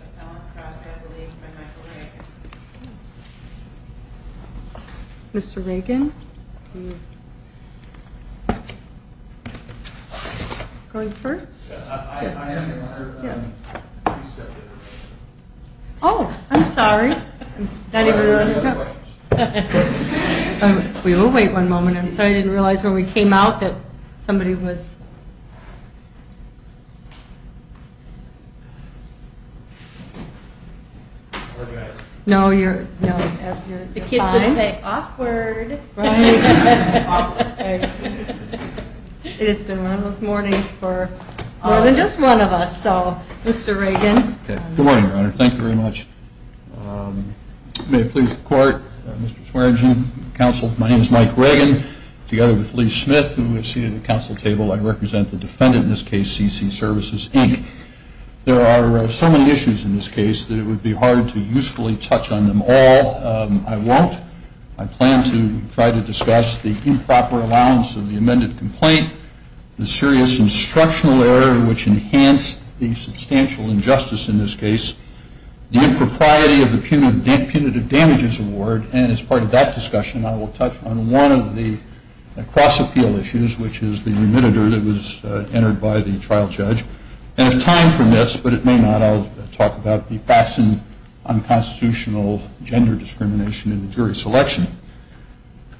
Appellant Cross Adelaide by Michael Reagan. Mr. Reagan? Going first? Oh, I'm sorry. We will wait one moment. I'm sorry I didn't realize when we came out that somebody was... No, you're fine. The kids would say, awkward. Right. It has been one of those mornings for more than just one of us. So, Mr. Reagan. Good morning, Your Honor. Thank you very much. May it please the Court, Mr. Swearengin, counsel, my name is Mike Reagan. Together with Lee Smith, who is seated at the council table, I represent the defendant in this case, CC Services, Inc. There are so many issues in this case that it would be hard to usefully touch on them all. I won't. I plan to try to discuss the improper allowance of the amended complaint, the serious instructional error which enhanced the substantial injustice in this case, the impropriety of the punitive damages award, and as part of that discussion I will touch on one of the cross-appeal issues, which is the remitter that was entered by the trial judge. And if time permits, but it may not, I'll talk about the fastened unconstitutional gender discrimination in the jury selection.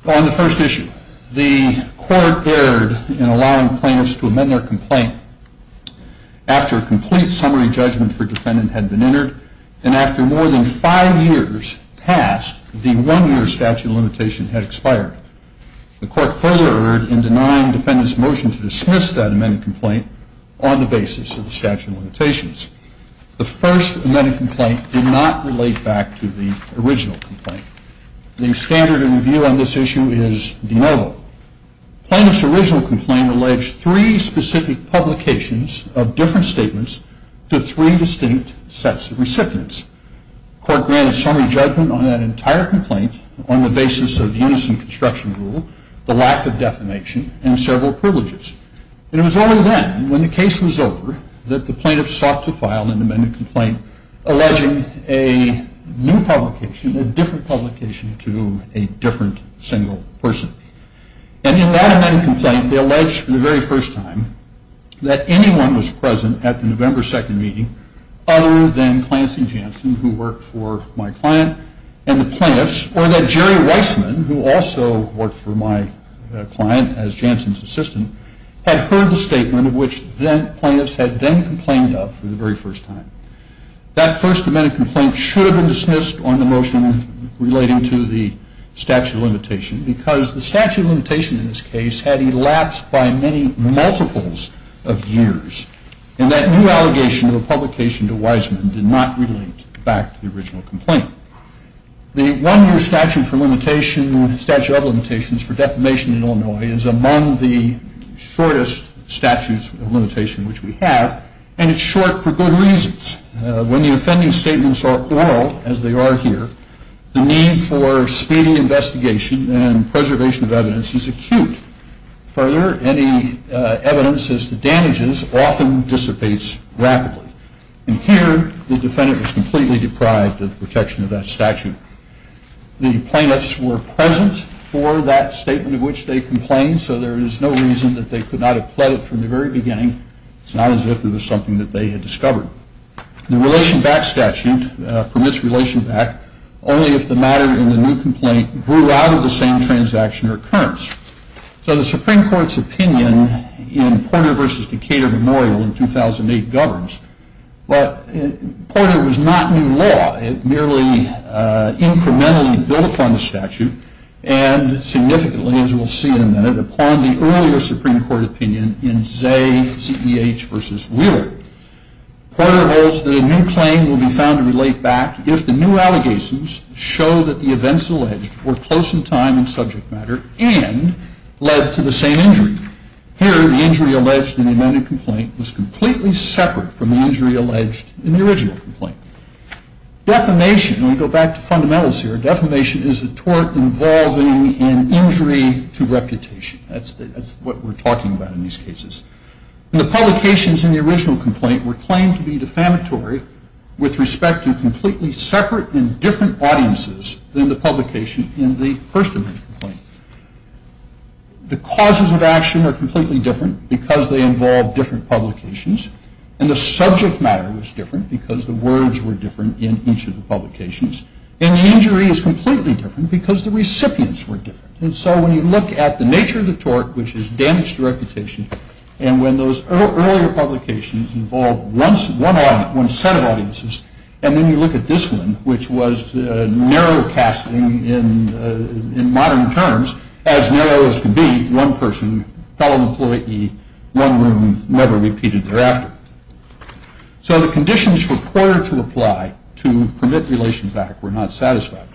On the first issue, the court erred in allowing plaintiffs to amend their complaint after a complete summary judgment for defendant had been entered, and after more than five years passed, the one-year statute of limitation had expired. The court further erred in denying defendant's motion to dismiss that amended complaint on the basis of the statute of limitations. The first amended complaint did not relate back to the original complaint. The standard of review on this issue is de novo. Plaintiff's original complaint alleged three specific publications of different statements to three distinct sets of recipients. The court granted summary judgment on that entire complaint on the basis of the unison construction rule, the lack of defamation, and several privileges. And it was only then, when the case was over, that the plaintiffs sought to file an amended complaint alleging a new publication, a different publication, to a different single person. And in that amended complaint, they alleged for the very first time that anyone was present at the November 2nd meeting other than Clancy Janssen, who worked for my client and the plaintiffs, or that Jerry Weissman, who also worked for my client as Janssen's assistant, had heard the statement which the plaintiffs had then complained of for the very first time. That first amended complaint should have been dismissed on the motion relating to the statute of limitation because the statute of limitation in this case had elapsed by many multiples of years and that new allegation of a publication to Weissman did not relate back to the original complaint. The one-year statute of limitations for defamation in Illinois is among the shortest statutes of limitation which we have, and it's short for good reasons. When the offending statements are oral, as they are here, the need for speedy investigation and preservation of evidence is acute. Further, any evidence as to damages often dissipates rapidly. And here, the defendant was completely deprived of protection of that statute. The plaintiffs were present for that statement of which they complained, so there is no reason that they could not have pled it from the very beginning. It's not as if it was something that they had discovered. The relation back statute permits relation back only if the matter in the new complaint grew out of the same transaction or occurrence. So the Supreme Court's opinion in Porter v. Decatur Memorial in 2008 governs, but Porter was not new law. It merely incrementally built upon the statute and significantly, as we'll see in a minute, upon the earlier Supreme Court opinion in Zeh, C.E.H. v. Wheeler. Porter holds that a new claim will be found to relate back if the new allegations show that the events alleged were close in time in subject matter and led to the same injury. Here, the injury alleged in the amended complaint was completely separate from the injury alleged in the original complaint. Defamation, and we go back to fundamentals here, defamation is a tort involving an injury to reputation. That's what we're talking about in these cases. The publications in the original complaint were claimed to be defamatory with respect to completely separate and different audiences than the publication in the first amendment complaint. The causes of action are completely different because they involve different publications, and the subject matter was different because the words were different in each of the publications, and the injury is completely different because the recipients were different. And so when you look at the nature of the tort, which is damage to reputation, and when those earlier publications involved one set of audiences, and then you look at this one, which was narrow casting in modern terms, as narrow as can be, one person, fellow employee, one room, never repeated thereafter. So the conditions reported to apply to permit relation back were not satisfied.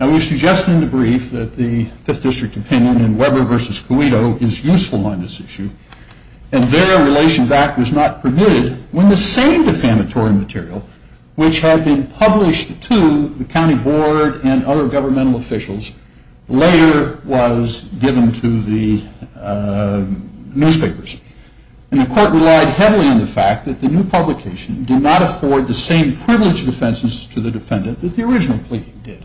And we've suggested in the brief that the Fifth District opinion in Weber v. Coedo is useful on this issue, and there relation back was not permitted when the same defamatory material, which had been published to the county board and other governmental officials, later was given to the newspapers. And the court relied heavily on the fact that the new publication did not afford the same privilege defenses to the defendant that the original plea did.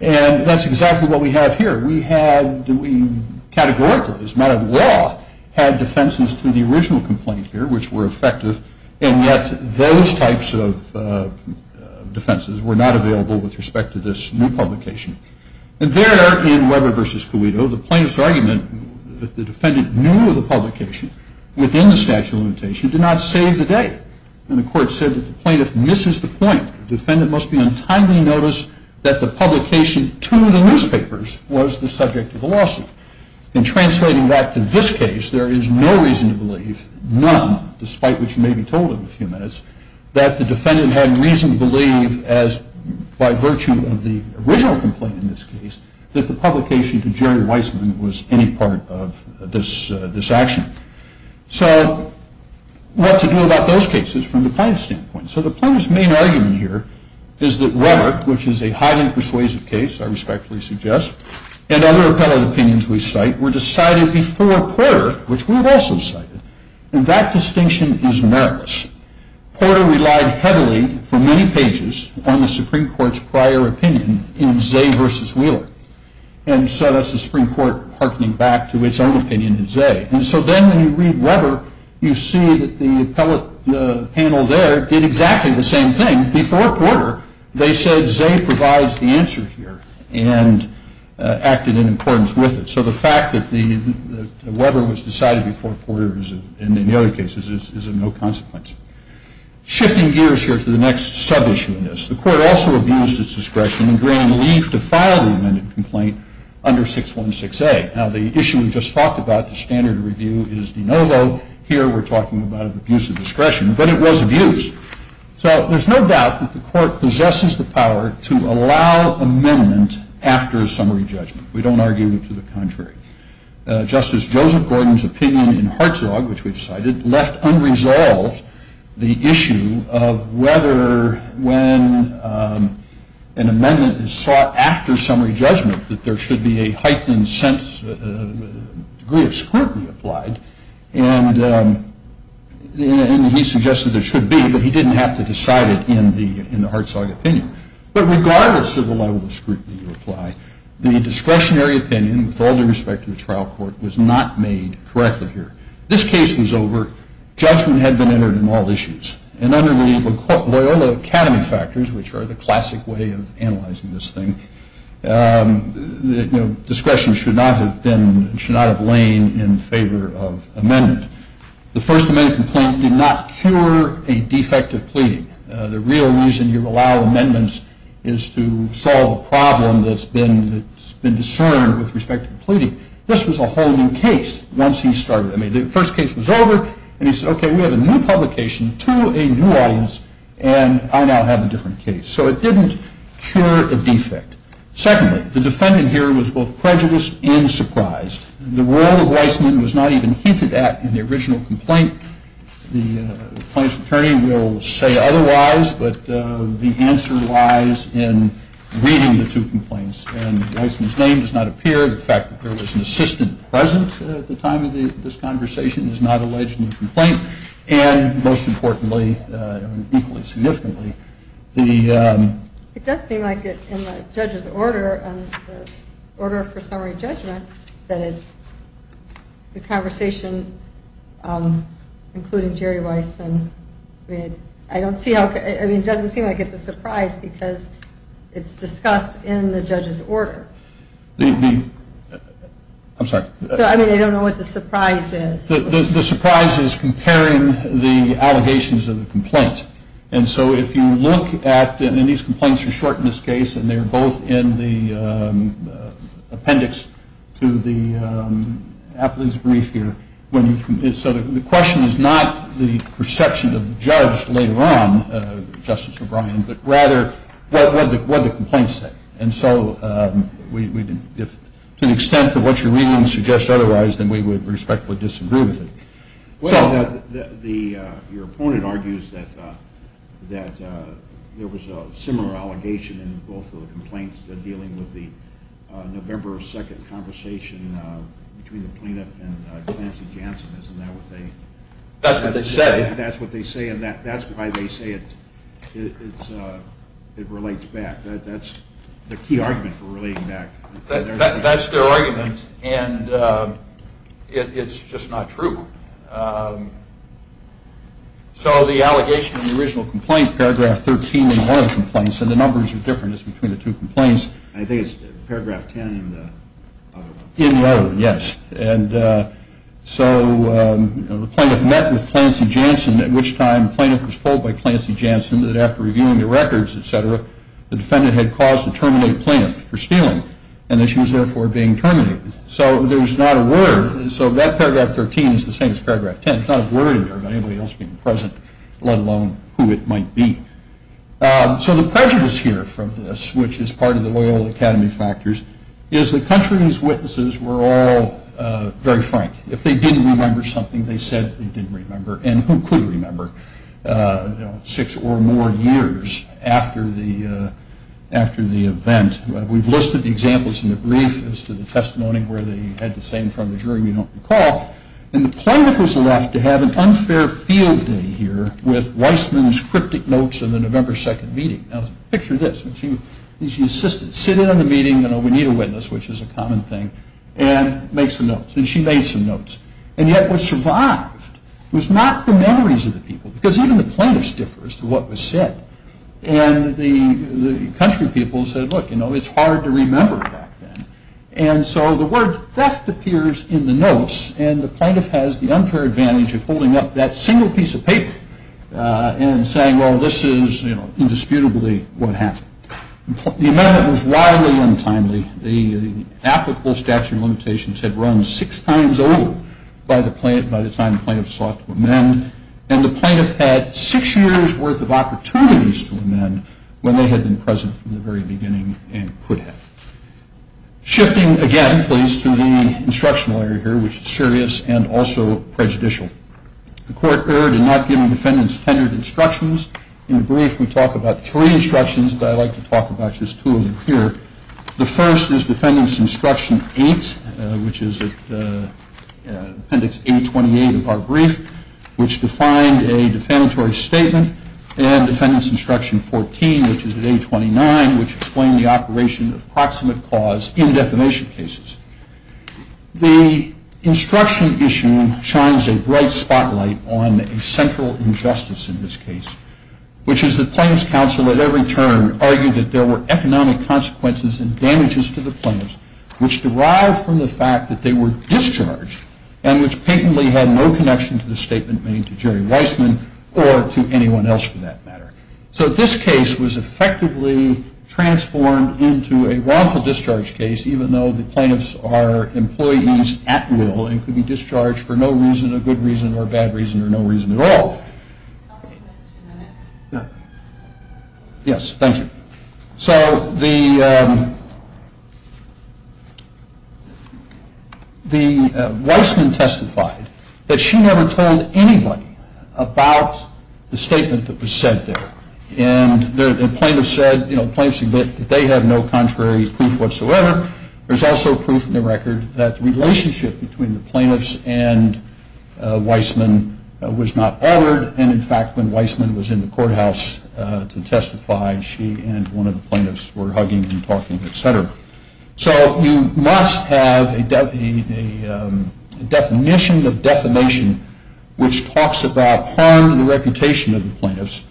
And that's exactly what we have here. We categorically, as a matter of law, had defenses to the original complaint here, which were effective, and yet those types of defenses were not available with respect to this new publication. And there, in Weber v. Coedo, the plaintiff's argument that the defendant knew the publication within the statute of limitation did not save the day. And the court said that the plaintiff misses the point. The defendant must be on timely notice that the publication to the newspapers was the subject of the lawsuit. In translating that to this case, there is no reason to believe, none, despite what you may be told in a few minutes, that the defendant had reason to believe, by virtue of the original complaint in this case, that the publication to Jerry Weisman was any part of this action. So what to do about those cases from the plaintiff's standpoint? So the plaintiff's main argument here is that Weber, which is a highly persuasive case, I respectfully suggest, and other appellate opinions we cite were decided before Porter, which we've also cited. And that distinction is meritorious. Porter relied heavily, for many pages, on the Supreme Court's prior opinion in Zay v. Wheeler. And so that's the Supreme Court harkening back to its own opinion in Zay. And so then when you read Weber, you see that the appellate panel there did exactly the same thing. Before Porter, they said Zay provides the answer here. And acted in accordance with it. So the fact that Weber was decided before Porter, and in many other cases, is of no consequence. Shifting gears here to the next sub-issue in this, the Court also abused its discretion in granting Lief to file the amended complaint under 616A. Now, the issue we just talked about, the standard review, is de novo. Here we're talking about an abuse of discretion. But it was abused. So there's no doubt that the Court possesses the power to allow amendment after a summary judgment. We don't argue to the contrary. Justice Joseph Gordon's opinion in Hartzog, which we've cited, left unresolved the issue of whether when an amendment is sought after summary judgment, that there should be a heightened degree of scrutiny applied. And he suggested there should be, but he didn't have to decide it in the Hartzog opinion. But regardless of the level of scrutiny you apply, the discretionary opinion with all due respect to the trial court was not made correctly here. This case was over. Judgment had been entered in all issues. And under the Loyola Academy factors, which are the classic way of analyzing this thing, discretion should not have lain in favor of amendment. The First Amendment complaint did not cure a defective pleading. The real reason you allow amendments is to solve a problem that's been discerned with respect to pleading. This was a whole new case once he started. I mean, the first case was over, and he said, okay, we have a new publication to a new audience, and I now have a different case. So it didn't cure a defect. Secondly, the defendant here was both prejudiced and surprised. The role of Weissman was not even hinted at in the original complaint. The plaintiff's attorney will say otherwise, but the answer lies in reading the two complaints. And Weissman's name does not appear. The fact that there was an assistant present at the time of this conversation is not alleged in the complaint. And most importantly, equally significantly, the- It does seem like in the judge's order, the order for summary judgment, that the conversation, including Jerry Weissman, I mean, I don't see how- I mean, it doesn't seem like it's a surprise because it's discussed in the judge's order. I'm sorry. So, I mean, I don't know what the surprise is. The surprise is comparing the allegations of the complaint. And so if you look at- And these complaints are short in this case, and they're both in the appendix to the appellate's brief here. So the question is not the perception of the judge later on, Justice O'Brien, but rather what the complaints say. And so to an extent that what you're reading suggests otherwise, then we would respectfully disagree with it. Well, your opponent argues that there was a similar allegation in both of the complaints dealing with the November 2nd conversation between the plaintiff and Clancy Jansen. Isn't that what they- That's what they say. That's what they say, and that's why they say it relates back. That's the key argument for relating back. That's their argument, and it's just not true. So the allegation in the original complaint, paragraph 13 in one of the complaints, and the numbers are different, it's between the two complaints. I think it's paragraph 10 in the other one. In the other one, yes. And so the plaintiff met with Clancy Jansen, at which time the plaintiff was told by Clancy Jansen that after reviewing the records, et cetera, the defendant had caused a terminated plaintiff for stealing, and that she was therefore being terminated. So there's not a word. So that paragraph 13 is the same as paragraph 10. There's not a word in there about anybody else being present, let alone who it might be. So the prejudice here from this, which is part of the loyal academy factors, is the country's witnesses were all very frank. If they didn't remember something, they said they didn't remember, and who could remember six or more years after the event? We've listed the examples in the brief as to the testimony where they had the same from the jury. We don't recall. And the plaintiff was left to have an unfair field day here with Weissman's cryptic notes of the November 2nd meeting. Now picture this. She insisted, sit in on the meeting, you know, we need a witness, which is a common thing, and make some notes. And she made some notes. And yet was survived. It was not the memories of the people, because even the plaintiffs differ as to what was said. And the country people said, look, you know, it's hard to remember back then. And so the word theft appears in the notes, and the plaintiff has the unfair advantage of holding up that single piece of paper and saying, well, this is, you know, indisputably what happened. The amendment was wildly untimely. The applicable statute of limitations had run six times over by the time the plaintiff sought to amend. And the plaintiff had six years' worth of opportunities to amend when they had been present from the very beginning and could have. Shifting again, please, to the instructional area here, which is serious and also prejudicial. The court erred in not giving defendants tenured instructions. In the brief, we talk about three instructions, but I'd like to talk about just two of them here. The first is Defendants Instruction 8, which is at Appendix A28 of our brief, which defined a defamatory statement, and Defendants Instruction 14, which is at A29, which explained the operation of proximate cause in defamation cases. The instruction issue shines a bright spotlight on a central injustice in this case, which is that plaintiffs' counsel at every turn argued that there were economic consequences and damages to the plaintiffs which derived from the fact that they were discharged and which patently had no connection to the statement made to Jerry Weissman or to anyone else for that matter. So this case was effectively transformed into a wrongful discharge case, even though the plaintiffs are employees at will and could be discharged for no reason, a good reason or a bad reason or no reason at all. Yes, thank you. So the Weissman testified that she never told anybody about the statement that was said there, and the plaintiffs admit that they have no contrary proof whatsoever. There's also proof in the record that the relationship between the plaintiffs and Weissman was not altered, and in fact when Weissman was in the courthouse to testify, she and one of the plaintiffs were hugging and talking, etc. So you must have a definition of defamation which talks about harm to the reputation of the plaintiffs,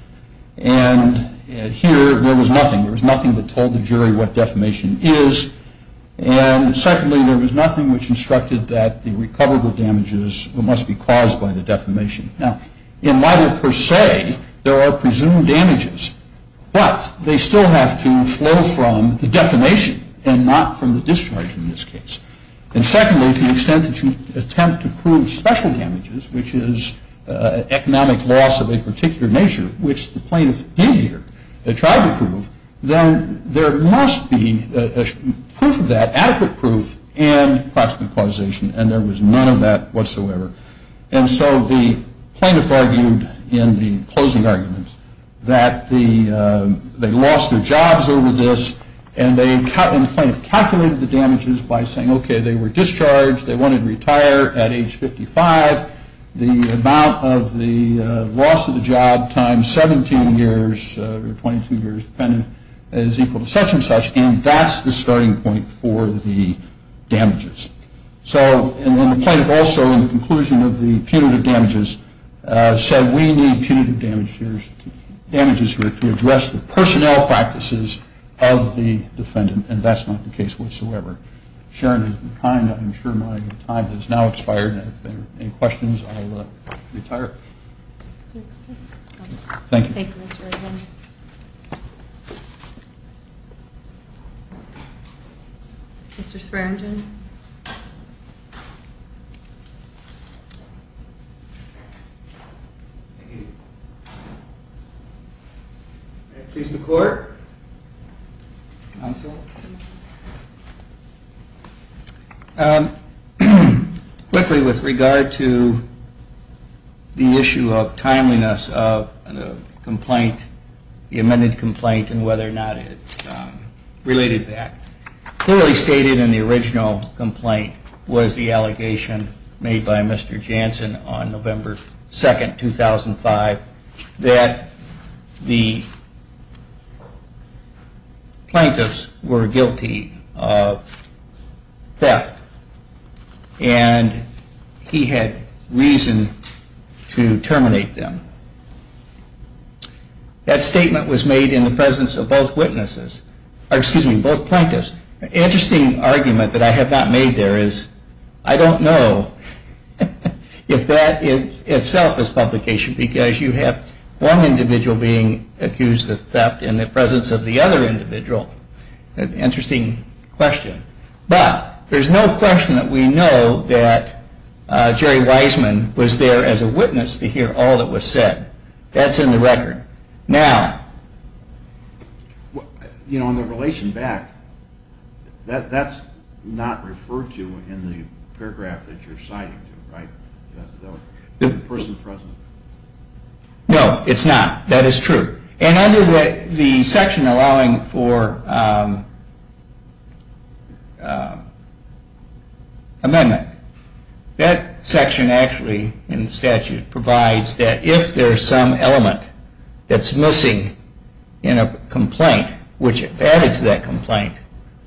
and here there was nothing. There was nothing that told the jury what defamation is, and secondly, there was nothing which instructed that the recoverable damages must be caused by the defamation. Now, in Leiter per se, there are presumed damages, but they still have to flow from the defamation and not from the discharge in this case. And secondly, to the extent that you attempt to prove special damages, which is economic loss of a particular nature, which the plaintiff did here, they tried to prove, then there must be proof of that, adequate proof, and approximate causation, and there was none of that whatsoever. And so the plaintiff argued in the closing argument that they lost their jobs over this, and the plaintiff calculated the damages by saying, okay, they were discharged, they wanted to retire at age 55. The amount of the loss of the job times 17 years or 22 years dependent is equal to such and such, and that's the starting point for the damages. So the plaintiff also, in the conclusion of the punitive damages, said we need punitive damages here to address the personnel practices of the defendant, and that's not the case whatsoever. Sharon has been kind. I'm sure my time has now expired, and if there are any questions, I'll retire. Thank you. Thank you, Mr. Egan. Mr. Sperrington. May it please the Court. Counsel. Quickly, with regard to the issue of timeliness of the complaint, the amended complaint, and whether or not it's related to that. Clearly stated in the original complaint was the allegation made by Mr. Jansen on November 2nd, 2005, that the plaintiffs were guilty of theft, and he had reason to terminate them. That statement was made in the presence of both witnesses. Excuse me, both plaintiffs. Interesting argument that I have not made there is I don't know if that itself is publication, because you have one individual being accused of theft in the presence of the other individual. Interesting question. But there's no question that we know that Jerry Wiseman was there as a witness to hear all that was said. That's in the record. Now. You know, in the relation back, that's not referred to in the paragraph that you're citing, right? The person present. No, it's not. That is true. And under the section allowing for amendment, that section actually in the statute provides that if there's some element that's missing in a complaint, which if added to that complaint,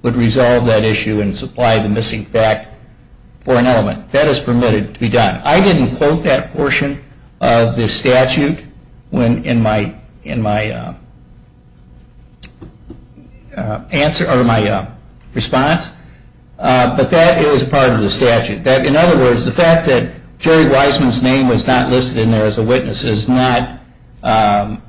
would resolve that issue and supply the missing fact for an element. That is permitted to be done. I didn't quote that portion of the statute in my response, but that is part of the statute. In other words, the fact that Jerry Wiseman's name was not listed in there as a witness can't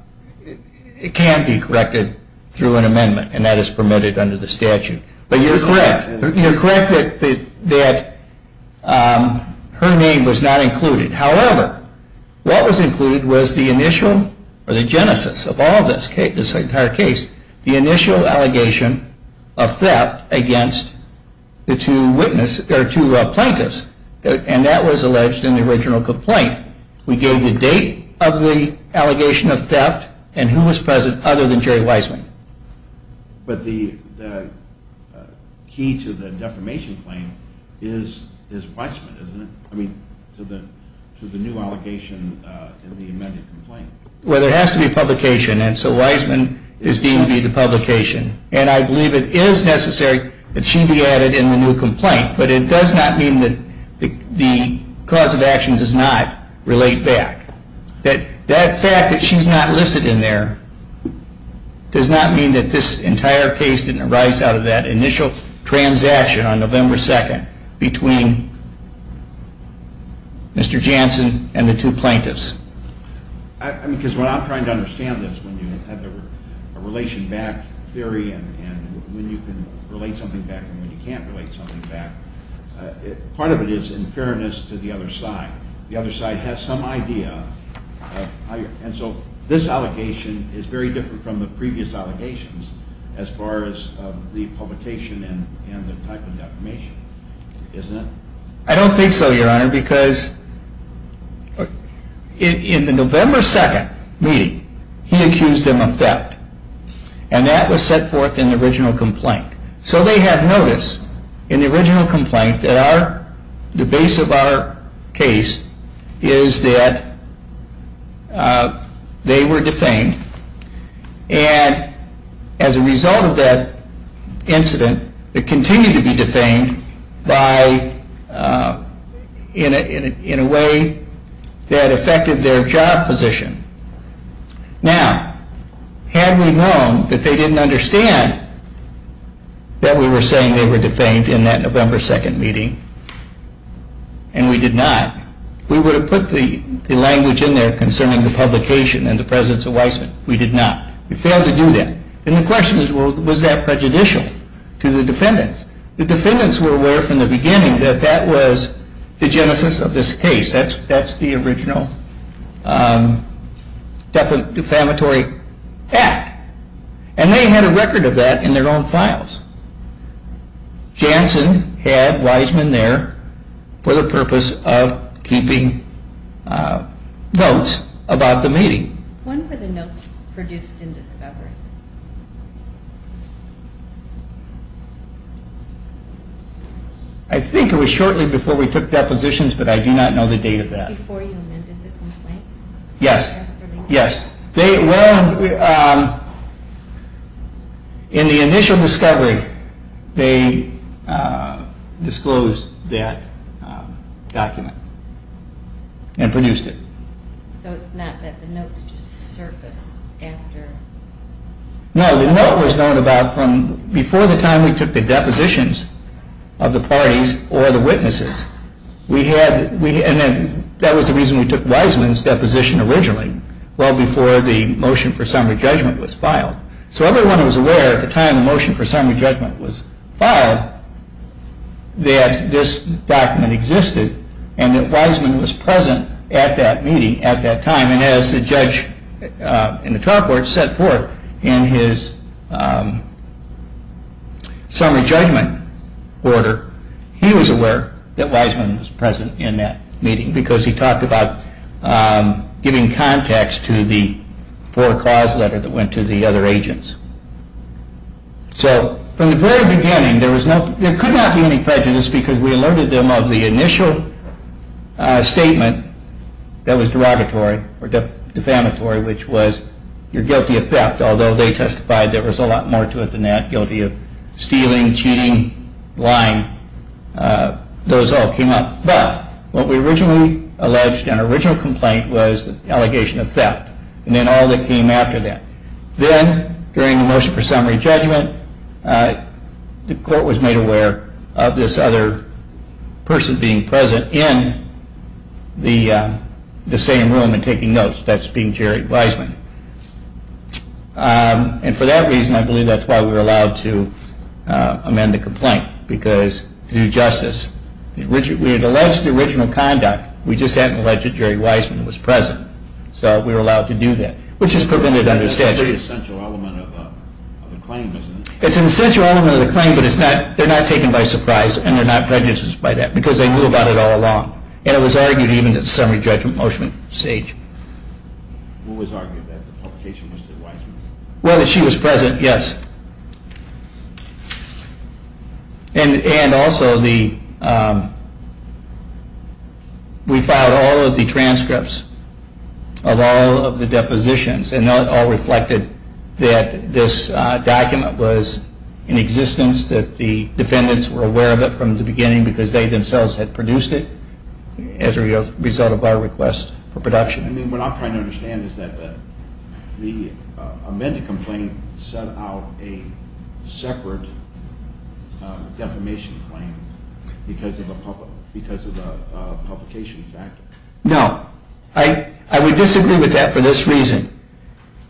be corrected through an amendment, and that is permitted under the statute. But you're correct. You're correct that her name was not included. However, what was included was the initial, or the genesis of all of this, this entire case, the initial allegation of theft against the two plaintiffs, and that was alleged in the original complaint. We gave the date of the allegation of theft and who was present other than Jerry Wiseman. But the key to the defamation claim is Wiseman, isn't it? I mean, to the new allegation in the amended complaint. Well, there has to be publication, and so Wiseman is deemed to be the publication. And I believe it is necessary that she be added in the new complaint, but it does not mean that the cause of action does not relate back. That fact that she's not listed in there does not mean that this entire case didn't arise out of that initial transaction on November 2nd between Mr. Jansen and the two plaintiffs. I mean, because what I'm trying to understand is when you have a relation back theory and when you can relate something back and when you can't relate something back, part of it is in fairness to the other side. The other side has some idea, and so this allegation is very different from the previous allegations as far as the publication and the type of defamation, isn't it? I don't think so, Your Honor, because in the November 2nd meeting, he accused them of theft, and that was set forth in the original complaint. So they have notice in the original complaint that the base of our case is that they were defamed, and as a result of that incident, they continue to be defamed in a way that affected their job position. Now, had we known that they didn't understand that we were saying they were defamed in that November 2nd meeting, and we did not, we would have put the language in there concerning the publication and the presence of Weissman. We did not. We failed to do that, and the question is, well, was that prejudicial to the defendants? The defendants were aware from the beginning that that was the genesis of this case. That's the original defamatory act, and they had a record of that in their own files. Janssen had Weissman there for the purpose of keeping notes about the meeting. When were the notes produced in discovery? I think it was shortly before we took depositions, but I do not know the date of that. Before you amended the complaint? Yes. Yesterday? Yes. Well, in the initial discovery, they disclosed that document and produced it. So it's not that the notes just surfaced after? No, the note was known about from before the time we took the depositions of the parties or the witnesses. That was the reason we took Weissman's deposition originally, well before the motion for summary judgment was filed. So everyone was aware at the time the motion for summary judgment was filed that this document existed and that Weissman was present at that meeting at that time. And as the judge in the trial court set forth in his summary judgment order, he was aware that Weissman was present in that meeting because he talked about giving context to the four-cause letter that went to the other agents. So from the very beginning, there could not be any prejudice because we alerted them of the initial statement that was derogatory or defamatory, which was you're guilty of theft, although they testified there was a lot more to it than that. Guilty of stealing, cheating, lying, those all came up. But what we originally alleged in our original complaint was the allegation of theft and then all that came after that. Then during the motion for summary judgment, the court was made aware of this other person being present in the same room and taking notes. That's being Jerry Weissman. And for that reason, I believe that's why we were allowed to amend the complaint because due justice. We had alleged the original conduct, we just hadn't alleged that Jerry Weissman was present. So we were allowed to do that, which is prevented under statute. That's a pretty essential element of the claim, isn't it? It's an essential element of the claim, but they're not taken by surprise and they're not prejudiced by that because they knew about it all along. And it was argued even at the summary judgment motion stage. Who was arguing that the publication was to Weissman? Whether she was present, yes. And also, we filed all of the transcripts of all of the depositions and that all reflected that this document was in existence, that the defendants were aware of it from the beginning because they themselves had produced it as a result of our request for production. What I'm trying to understand is that the amended complaint set out a separate defamation claim because of a publication factor. No. I would disagree with that for this reason.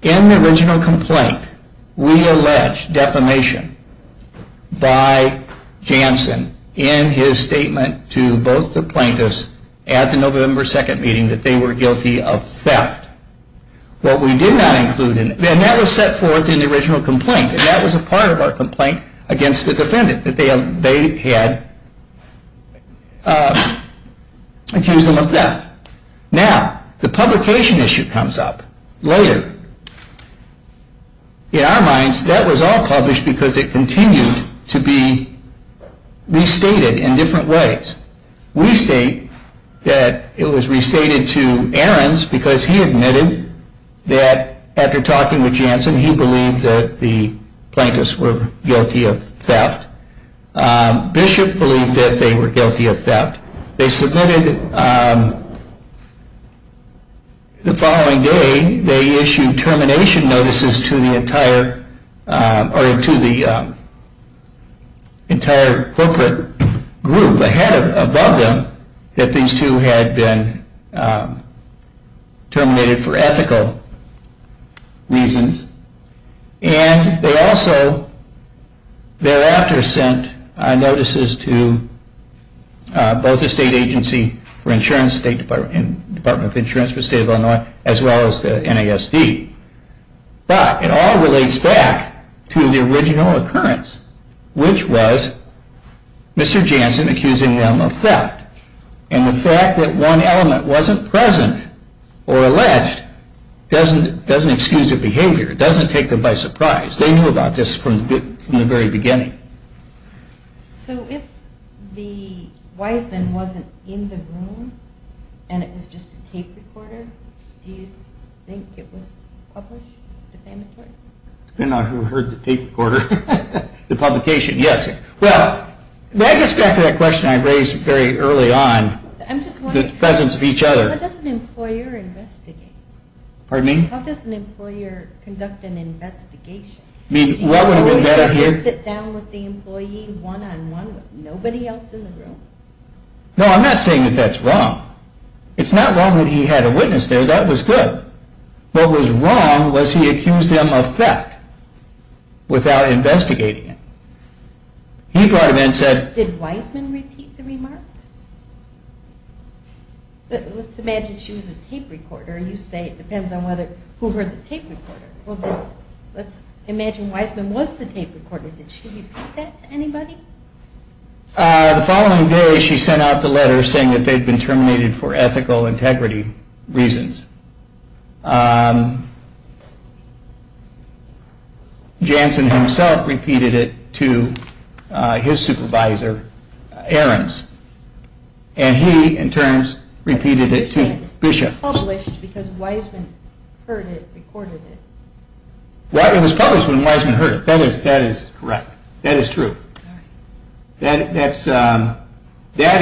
In the original complaint, we allege defamation by Janssen in his statement to both the plaintiffs at the November 2nd meeting that they were guilty of theft. What we did not include, and that was set forth in the original complaint, and that was a part of our complaint against the defendant, that they had accused them of theft. Now, the publication issue comes up later. In our minds, that was all published because it continued to be restated in different ways. We state that it was restated to Ahrens because he admitted that after talking with Janssen, he believed that the plaintiffs were guilty of theft. Bishop believed that they were guilty of theft. They submitted the following day, they issued termination notices to the entire corporate group above them that these two had been terminated for ethical reasons. And they also thereafter sent notices to both the State Agency for Insurance, State Department of Insurance for the State of Illinois, as well as the NASD. But it all relates back to the original occurrence, which was Mr. Janssen accusing them of theft. And the fact that one element wasn't present or alleged doesn't excuse their behavior. It doesn't take them by surprise. They knew about this from the very beginning. So if the Wiseman wasn't in the room and it was just a tape recorder, do you think it was published? Depending on who heard the tape recorder. The publication, yes. Well, that gets back to that question I raised very early on. The presence of each other. How does an employer investigate? Pardon me? How does an employer conduct an investigation? Do you always have to sit down with the employee one-on-one with nobody else in the room? No, I'm not saying that that's wrong. It's not wrong that he had a witness there, that was good. What was wrong was he accused them of theft without investigating it. He brought them in and said... Did Wiseman repeat the remarks? Let's imagine she was a tape recorder. You say it depends on who heard the tape recorder. Let's imagine Wiseman was the tape recorder. Did she repeat that to anybody? The following day she sent out the letter saying that they'd been terminated for ethical integrity reasons. Jansen himself repeated it to his supervisor, Ahrens. And he, in turn, repeated it to Bishop. It was published because Wiseman heard it, recorded it. It was published when Wiseman heard it, that is correct. That is true. That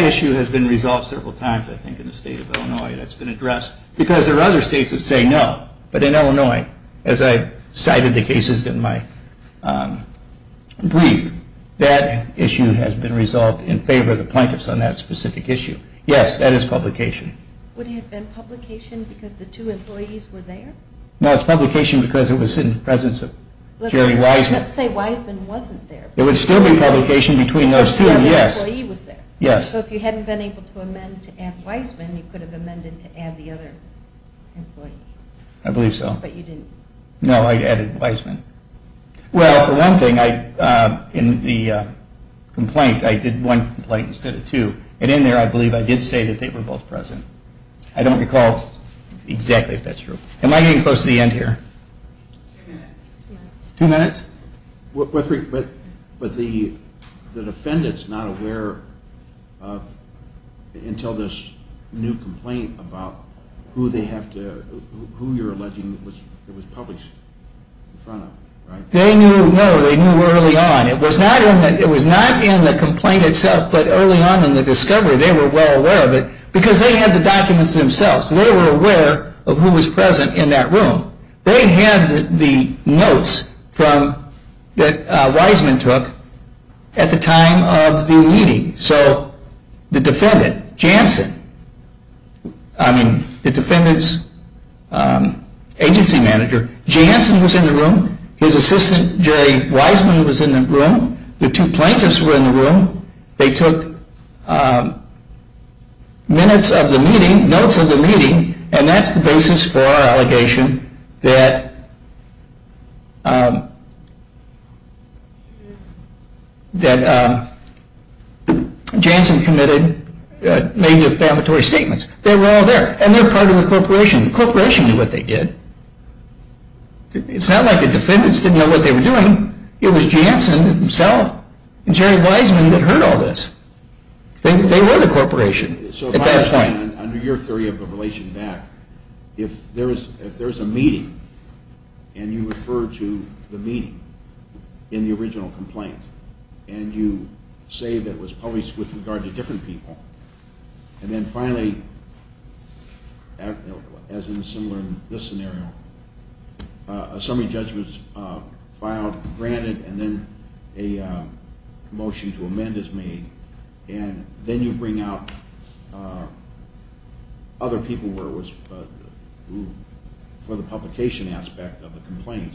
issue has been resolved several times, I think, in the state of Illinois. That's been addressed. Because there are other states that say no. But in Illinois, as I cited the cases in my brief, that issue has been resolved in favor of the plaintiffs on that specific issue. Yes, that is publication. Would it have been publication because the two employees were there? No, it's publication because it was in the presence of Jerry Wiseman. Let's say Wiseman wasn't there. It would still be publication between those two. So if you hadn't been able to amend to add Wiseman, you could have amended to add the other employee. I believe so. But you didn't. No, I added Wiseman. Well, for one thing, in the complaint, I did one complaint instead of two. And in there, I believe I did say that they were both present. I don't recall exactly if that's true. Am I getting close to the end here? Two minutes. But the defendant's not aware until this new complaint about who they have to, who you're alleging it was published in front of, right? They knew, no, they knew early on. It was not in the complaint itself, but early on in the discovery, they were well aware of it. Because they had the documents themselves. They were aware of who was present in that room. They had the notes that Wiseman took at the time of the meeting. So the defendant, Jansen, I mean, the defendant's agency manager, Jansen was in the room. His assistant, Jerry Wiseman, was in the room. The two plaintiffs were in the room. They took minutes of the meeting, notes of the meeting, and that's the basis for our allegation that Jansen committed maybe a defamatory statement. They were all there. And they were part of the corporation. The corporation knew what they did. It's not like the defendants didn't know what they were doing. It was Jansen himself. And Jerry Wiseman had heard all this. They were the corporation at that point. So, under your theory of the relation back, if there's a meeting, and you refer to the meeting in the original complaint, and you say that it was published with regard to different people, and then finally, as in similar in this scenario, a summary judge was filed, granted, and then a motion to amend is made, and then you bring out other people for the publication aspect of the complaint,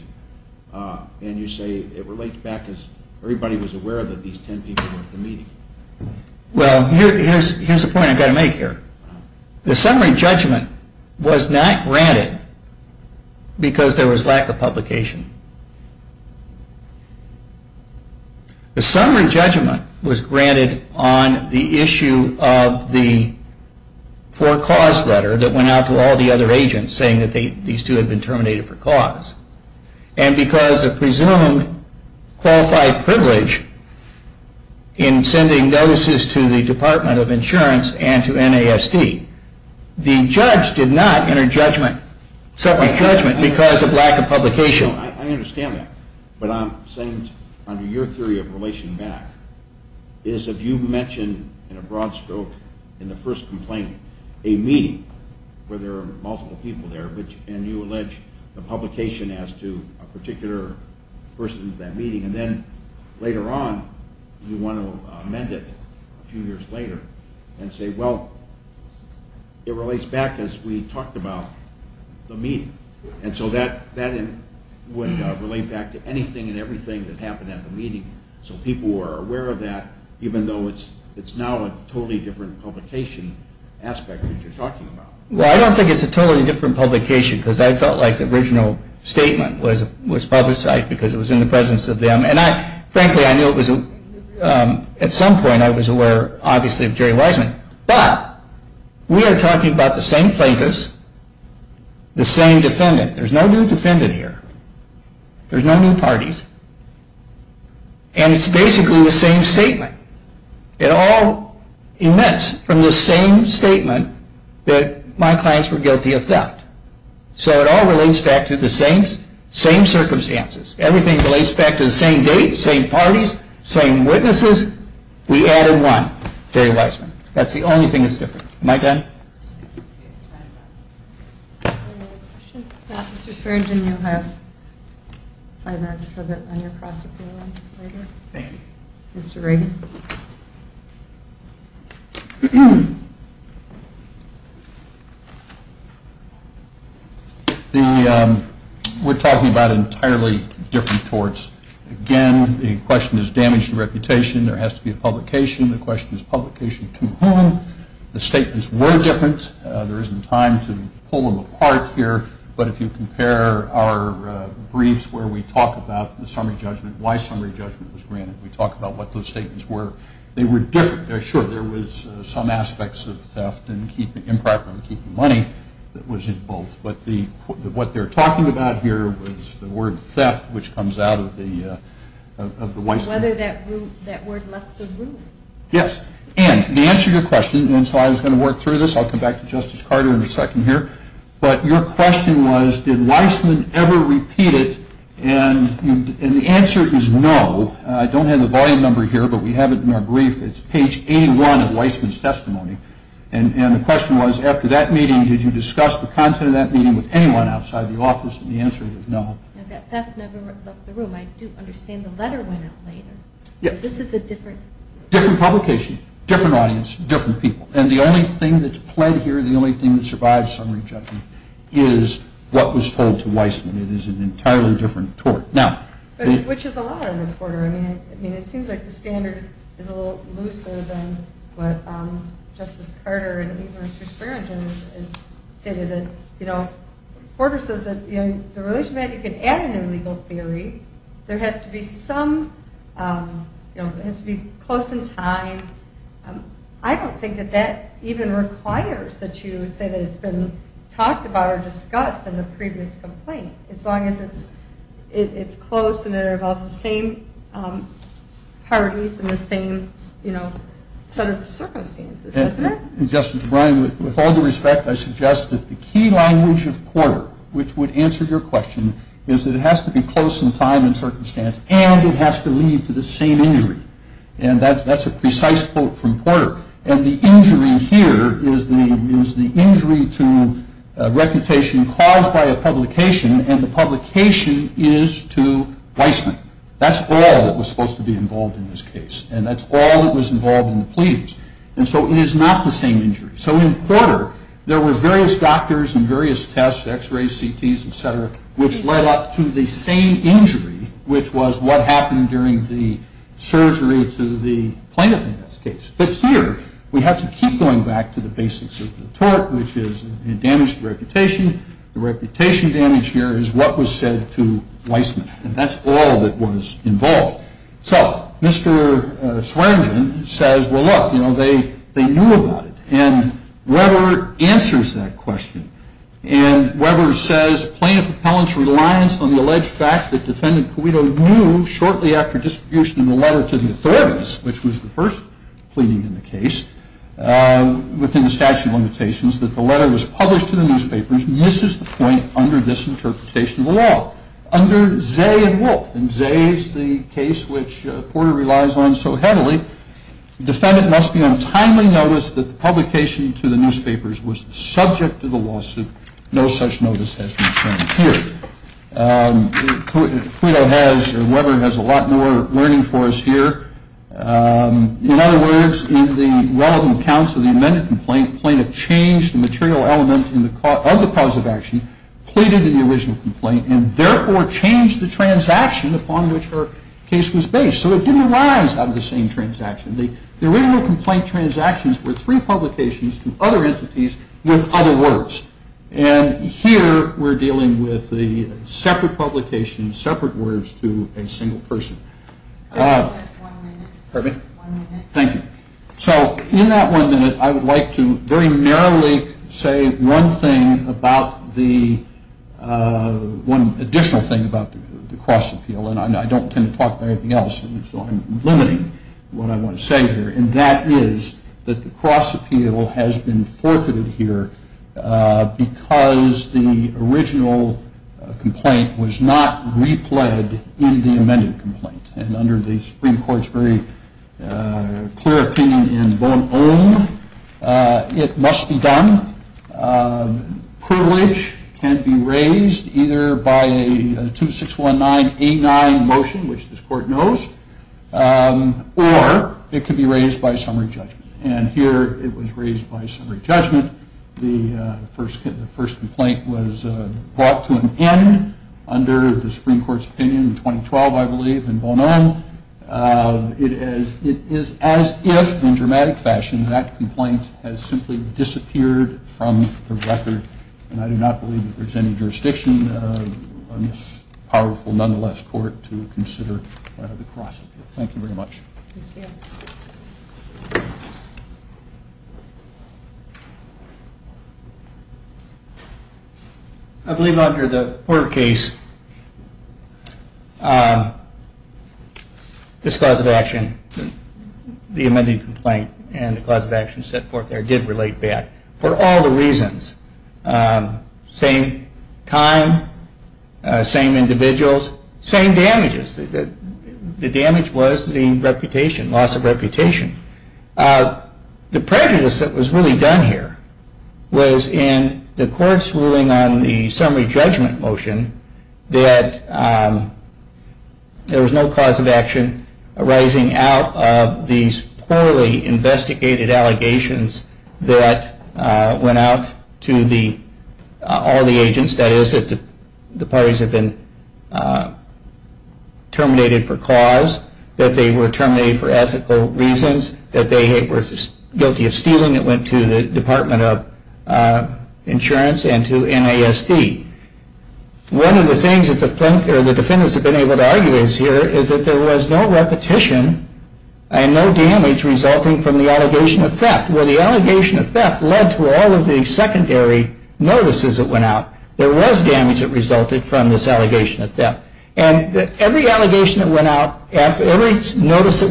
and you say it relates back as everybody was aware that these ten people were at the meeting. Well, here's a point I've got to make here. The summary judgment was not granted because there was lack of publication. The summary judgment was granted on the issue of the for cause letter that went out to all the other agents saying that these two had been terminated for cause. And because of presumed qualified privilege in sending notices to the Department of Insurance and to NASD, the judge did not enter judgment, summary judgment, because of lack of publication. I understand that, but I'm saying under your theory of relation back, is if you mention in a broad scope in the first complaint a meeting where there are multiple people there, and you allege the publication as to a particular person at that meeting, and then later on you want to amend it a few years later and say, well, it relates back as we talked about the meeting. And so that would relate back to anything and everything that happened at the meeting, so people were aware of that even though it's now a totally different publication aspect that you're talking about. Well, I don't think it's a totally different publication, because I felt like the original statement was publicized because it was in the presence of them. And frankly, I knew at some point I was aware, obviously, of Jerry Wiseman. But we are talking about the same plaintiffs, the same defendant. There's no new defendant here. There's no new parties. And it's basically the same statement. It all emits from the same statement that my clients were guilty of theft. So it all relates back to the same circumstances. Everything relates back to the same date, same parties, same witnesses. We added one, Jerry Wiseman. That's the only thing that's different. Am I done? Any other questions? Yeah, Mr. Schergen, you have five minutes for the under-prosecutor later. Thank you. Mr. Rager. We're talking about entirely different torts. Again, the question is damage to reputation. There has to be a publication. The question is publication to whom? The statements were different. There isn't time to pull them apart here. But if you compare our briefs where we talk about the summary judgment, why summary judgment was granted, we talk about what those statements were. They were different. Sure, there was some aspects of theft and improper keeping money that was in both. But what they're talking about here was the word theft, which comes out of the Wiseman. Whether that word left the room. Yes. And the answer to your question, and so I was going to work through this. I'll come back to Justice Carter in a second here. But your question was, did Wiseman ever repeat it? And the answer is no. I don't have the volume number here, but we have it in our brief. It's page 81 of Wiseman's testimony. And the question was, after that meeting, did you discuss the content of that meeting with anyone outside the office? And the answer is no. That theft never left the room. I do understand the letter went out later. Yeah. Different publication. Different audience. Different people. And the only thing that's pled here, the only thing that survives summary judgment, is what was told to Wiseman. It is an entirely different tort. Which is a lot of it, Porter. I mean, it seems like the standard is a little looser than what Justice Carter and even Mr. Sperringen has stated. You know, Porter says that in the relationship you can add an illegal theory, there has to be some, you know, it has to be close in time. I don't think that that even requires that you say that it's been talked about or discussed in the previous complaint, as long as it's close and it involves the same parties and the same, you know, set of circumstances, doesn't it? Justice O'Brien, with all due respect, I suggest that the key language of Porter, which would answer your question, is that it has to be close in time and circumstance, and it has to lead to the same injury. And that's a precise quote from Porter. And the injury here is the injury to reputation caused by a publication, and the publication is to Wiseman. That's all that was supposed to be involved in this case, and that's all that was involved in the pleadings. And so it is not the same injury. So in Porter, there were various doctors and various tests, X-rays, CTs, et cetera, which led up to the same injury, which was what happened during the surgery to the plaintiff in this case. But here, we have to keep going back to the basics of the tort, which is damage to reputation. The reputation damage here is what was said to Wiseman, and that's all that was involved. So Mr. Swearengin says, well, look, you know, they knew about it. And Weber answers that question. And Weber says, plaintiff appellant's reliance on the alleged fact that defendant Cuito knew shortly after distribution of the letter to the authorities, which was the first pleading in the case, within the statute of limitations, that the letter was published in the newspapers, misses the point under this interpretation of the law. Under Zay and Wolfe, and Zay is the case which Porter relies on so heavily, defendant must be on timely notice that the publication to the newspapers was the subject of the lawsuit. No such notice has been sent here. Cuito has, or Weber has, a lot more learning for us here. In other words, in the relevant accounts of the amended complaint, plaintiff changed the material element of the cause of action, pleaded in the original complaint, and therefore changed the transaction upon which her case was based. So it didn't arise out of the same transaction. The original complaint transactions were three publications to other entities with other words. And here we're dealing with the separate publications, separate words to a single person. One minute. Pardon me? One minute. Thank you. So in that one minute I would like to very narrowly say one thing about the, one additional thing about the cross appeal, and I don't tend to talk about anything else, so I'm limiting what I want to say here, and that is that the cross appeal has been forfeited here because the original complaint was not replayed in the amended complaint. And under the Supreme Court's very clear opinion in Bonhomme, it must be done. Privilege can be raised either by a 2619A9 motion, which this court knows, or it can be raised by summary judgment. And here it was raised by summary judgment. The first complaint was brought to an end under the Supreme Court's opinion in 2012, I believe, in Bonhomme. It is as if, in dramatic fashion, that complaint has simply disappeared from the record, and I do not believe that there's any jurisdiction on this powerful, nonetheless, court to consider the cross appeal. Thank you very much. Thank you. I believe under the Porter case, this cause of action, the amended complaint, and the cause of action set forth there did relate back for all the reasons. Same time, same individuals, same damages. The damage was the reputation loss. The loss of reputation. The prejudice that was really done here was in the court's ruling on the summary judgment motion that there was no cause of action arising out of these poorly investigated allegations that went out to all the agents, that is, that the parties had been terminated for cause, that they were terminated for ethical reasons, that they were guilty of stealing, that went to the Department of Insurance and to NASD. One of the things that the defendants have been able to argue is here is that there was no repetition and no damage resulting from the allegation of theft, where the allegation of theft led to all of the secondary notices that went out. Every notice that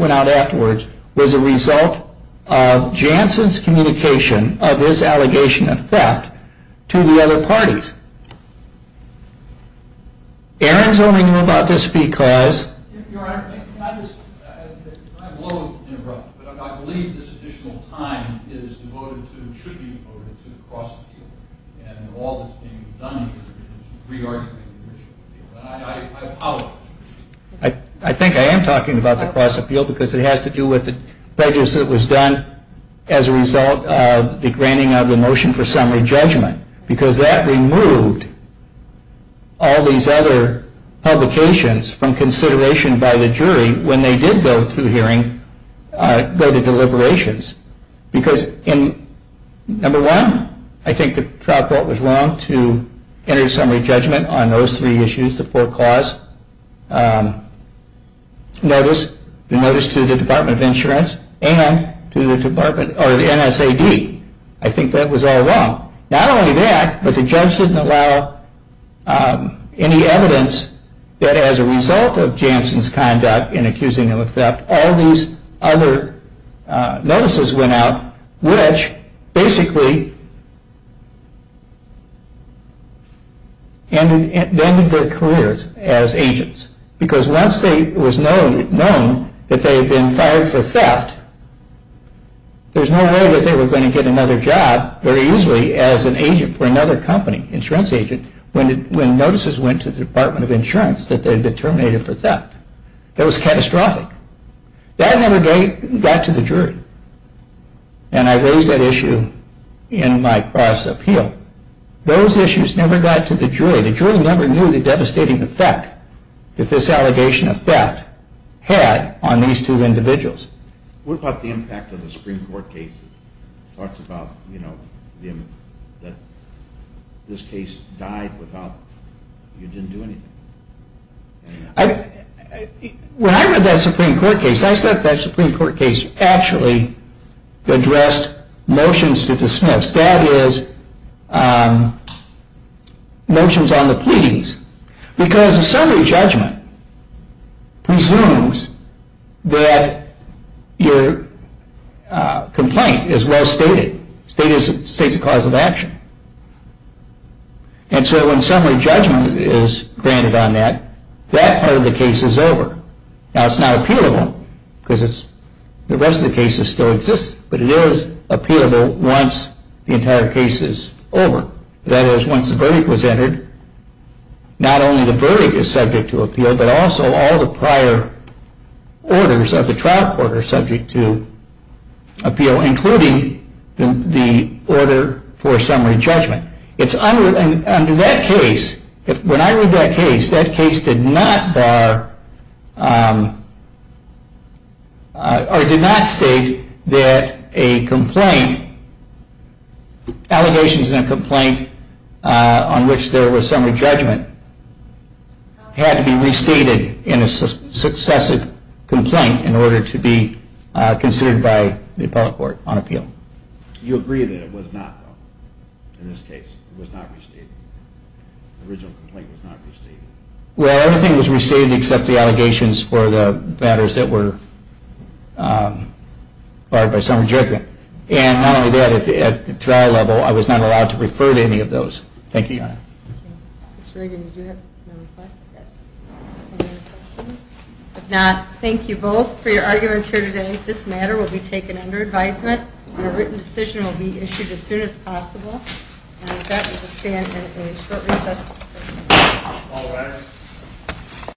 went out afterwards was a result of Jansen's communication of his allegation of theft to the other parties. Aaron is only known about this because... Your Honor, may I just... I'm loath to interrupt, but I believe this additional time is devoted to, should be devoted to the cross-appeal and all that's being done here is pre-argument. I apologize. I think I am talking about the cross-appeal because it has to do with the prejudice that was done as a result of the granting of the motion for summary judgment because that removed all these other publications from consideration by the jury when they did go to hearings, go to deliberations. Because, number one, I think the trial court was wrong to enter summary judgment on those three issues, the four cause notice, the notice to the Department of Insurance and to the NSAD. I think that was all wrong. Not only that, but the judge didn't allow any evidence that as a result of Jansen's conduct in accusing him of theft, all these other notices went out, which basically ended their careers as agents. Because once it was known that they had been fired for theft, there's no way that they were going to get another job very easily as an agent for another company, insurance agent, when notices went to the Department of Insurance that they had been terminated for theft. That was catastrophic. That never got to the jury. And I raised that issue in my cross-appeal. Those issues never got to the jury. The jury never knew the devastating effect that this allegation of theft had on these two individuals. What about the impact of the Supreme Court cases? When I read that Supreme Court case, I thought that Supreme Court case actually addressed motions to the Smiths, that is, motions on the pleas. Because a summary judgment presumes that your complaint is well stated, states a cause of action. And so when summary judgment is granted on that, that part of the case is over. Now it's not appealable, because the rest of the cases still exist, but it is appealable once the entire case is over. That is, once the verdict was entered, not only the verdict is subject to appeal, but also all the prior orders of the trial court are subject to appeal, including the order for summary judgment. Under that case, when I read that case, that case did not state that allegations in a complaint on which there was summary judgment had to be restated in a successive complaint in order to be considered by the appellate court on appeal. You agree that it was not, though, in this case? It was not restated? The original complaint was not restated? Well, everything was restated except the allegations for the matters that were barred by summary judgment. And not only that, at the trial level, I was not allowed to refer to any of those. Thank you, Your Honor. Mr. Reagan, did you have another question? If not, thank you both for your arguments here today. This matter will be taken under advisement. Your written decision will be issued as soon as possible. And with that, we will stand in a short recess. All rise.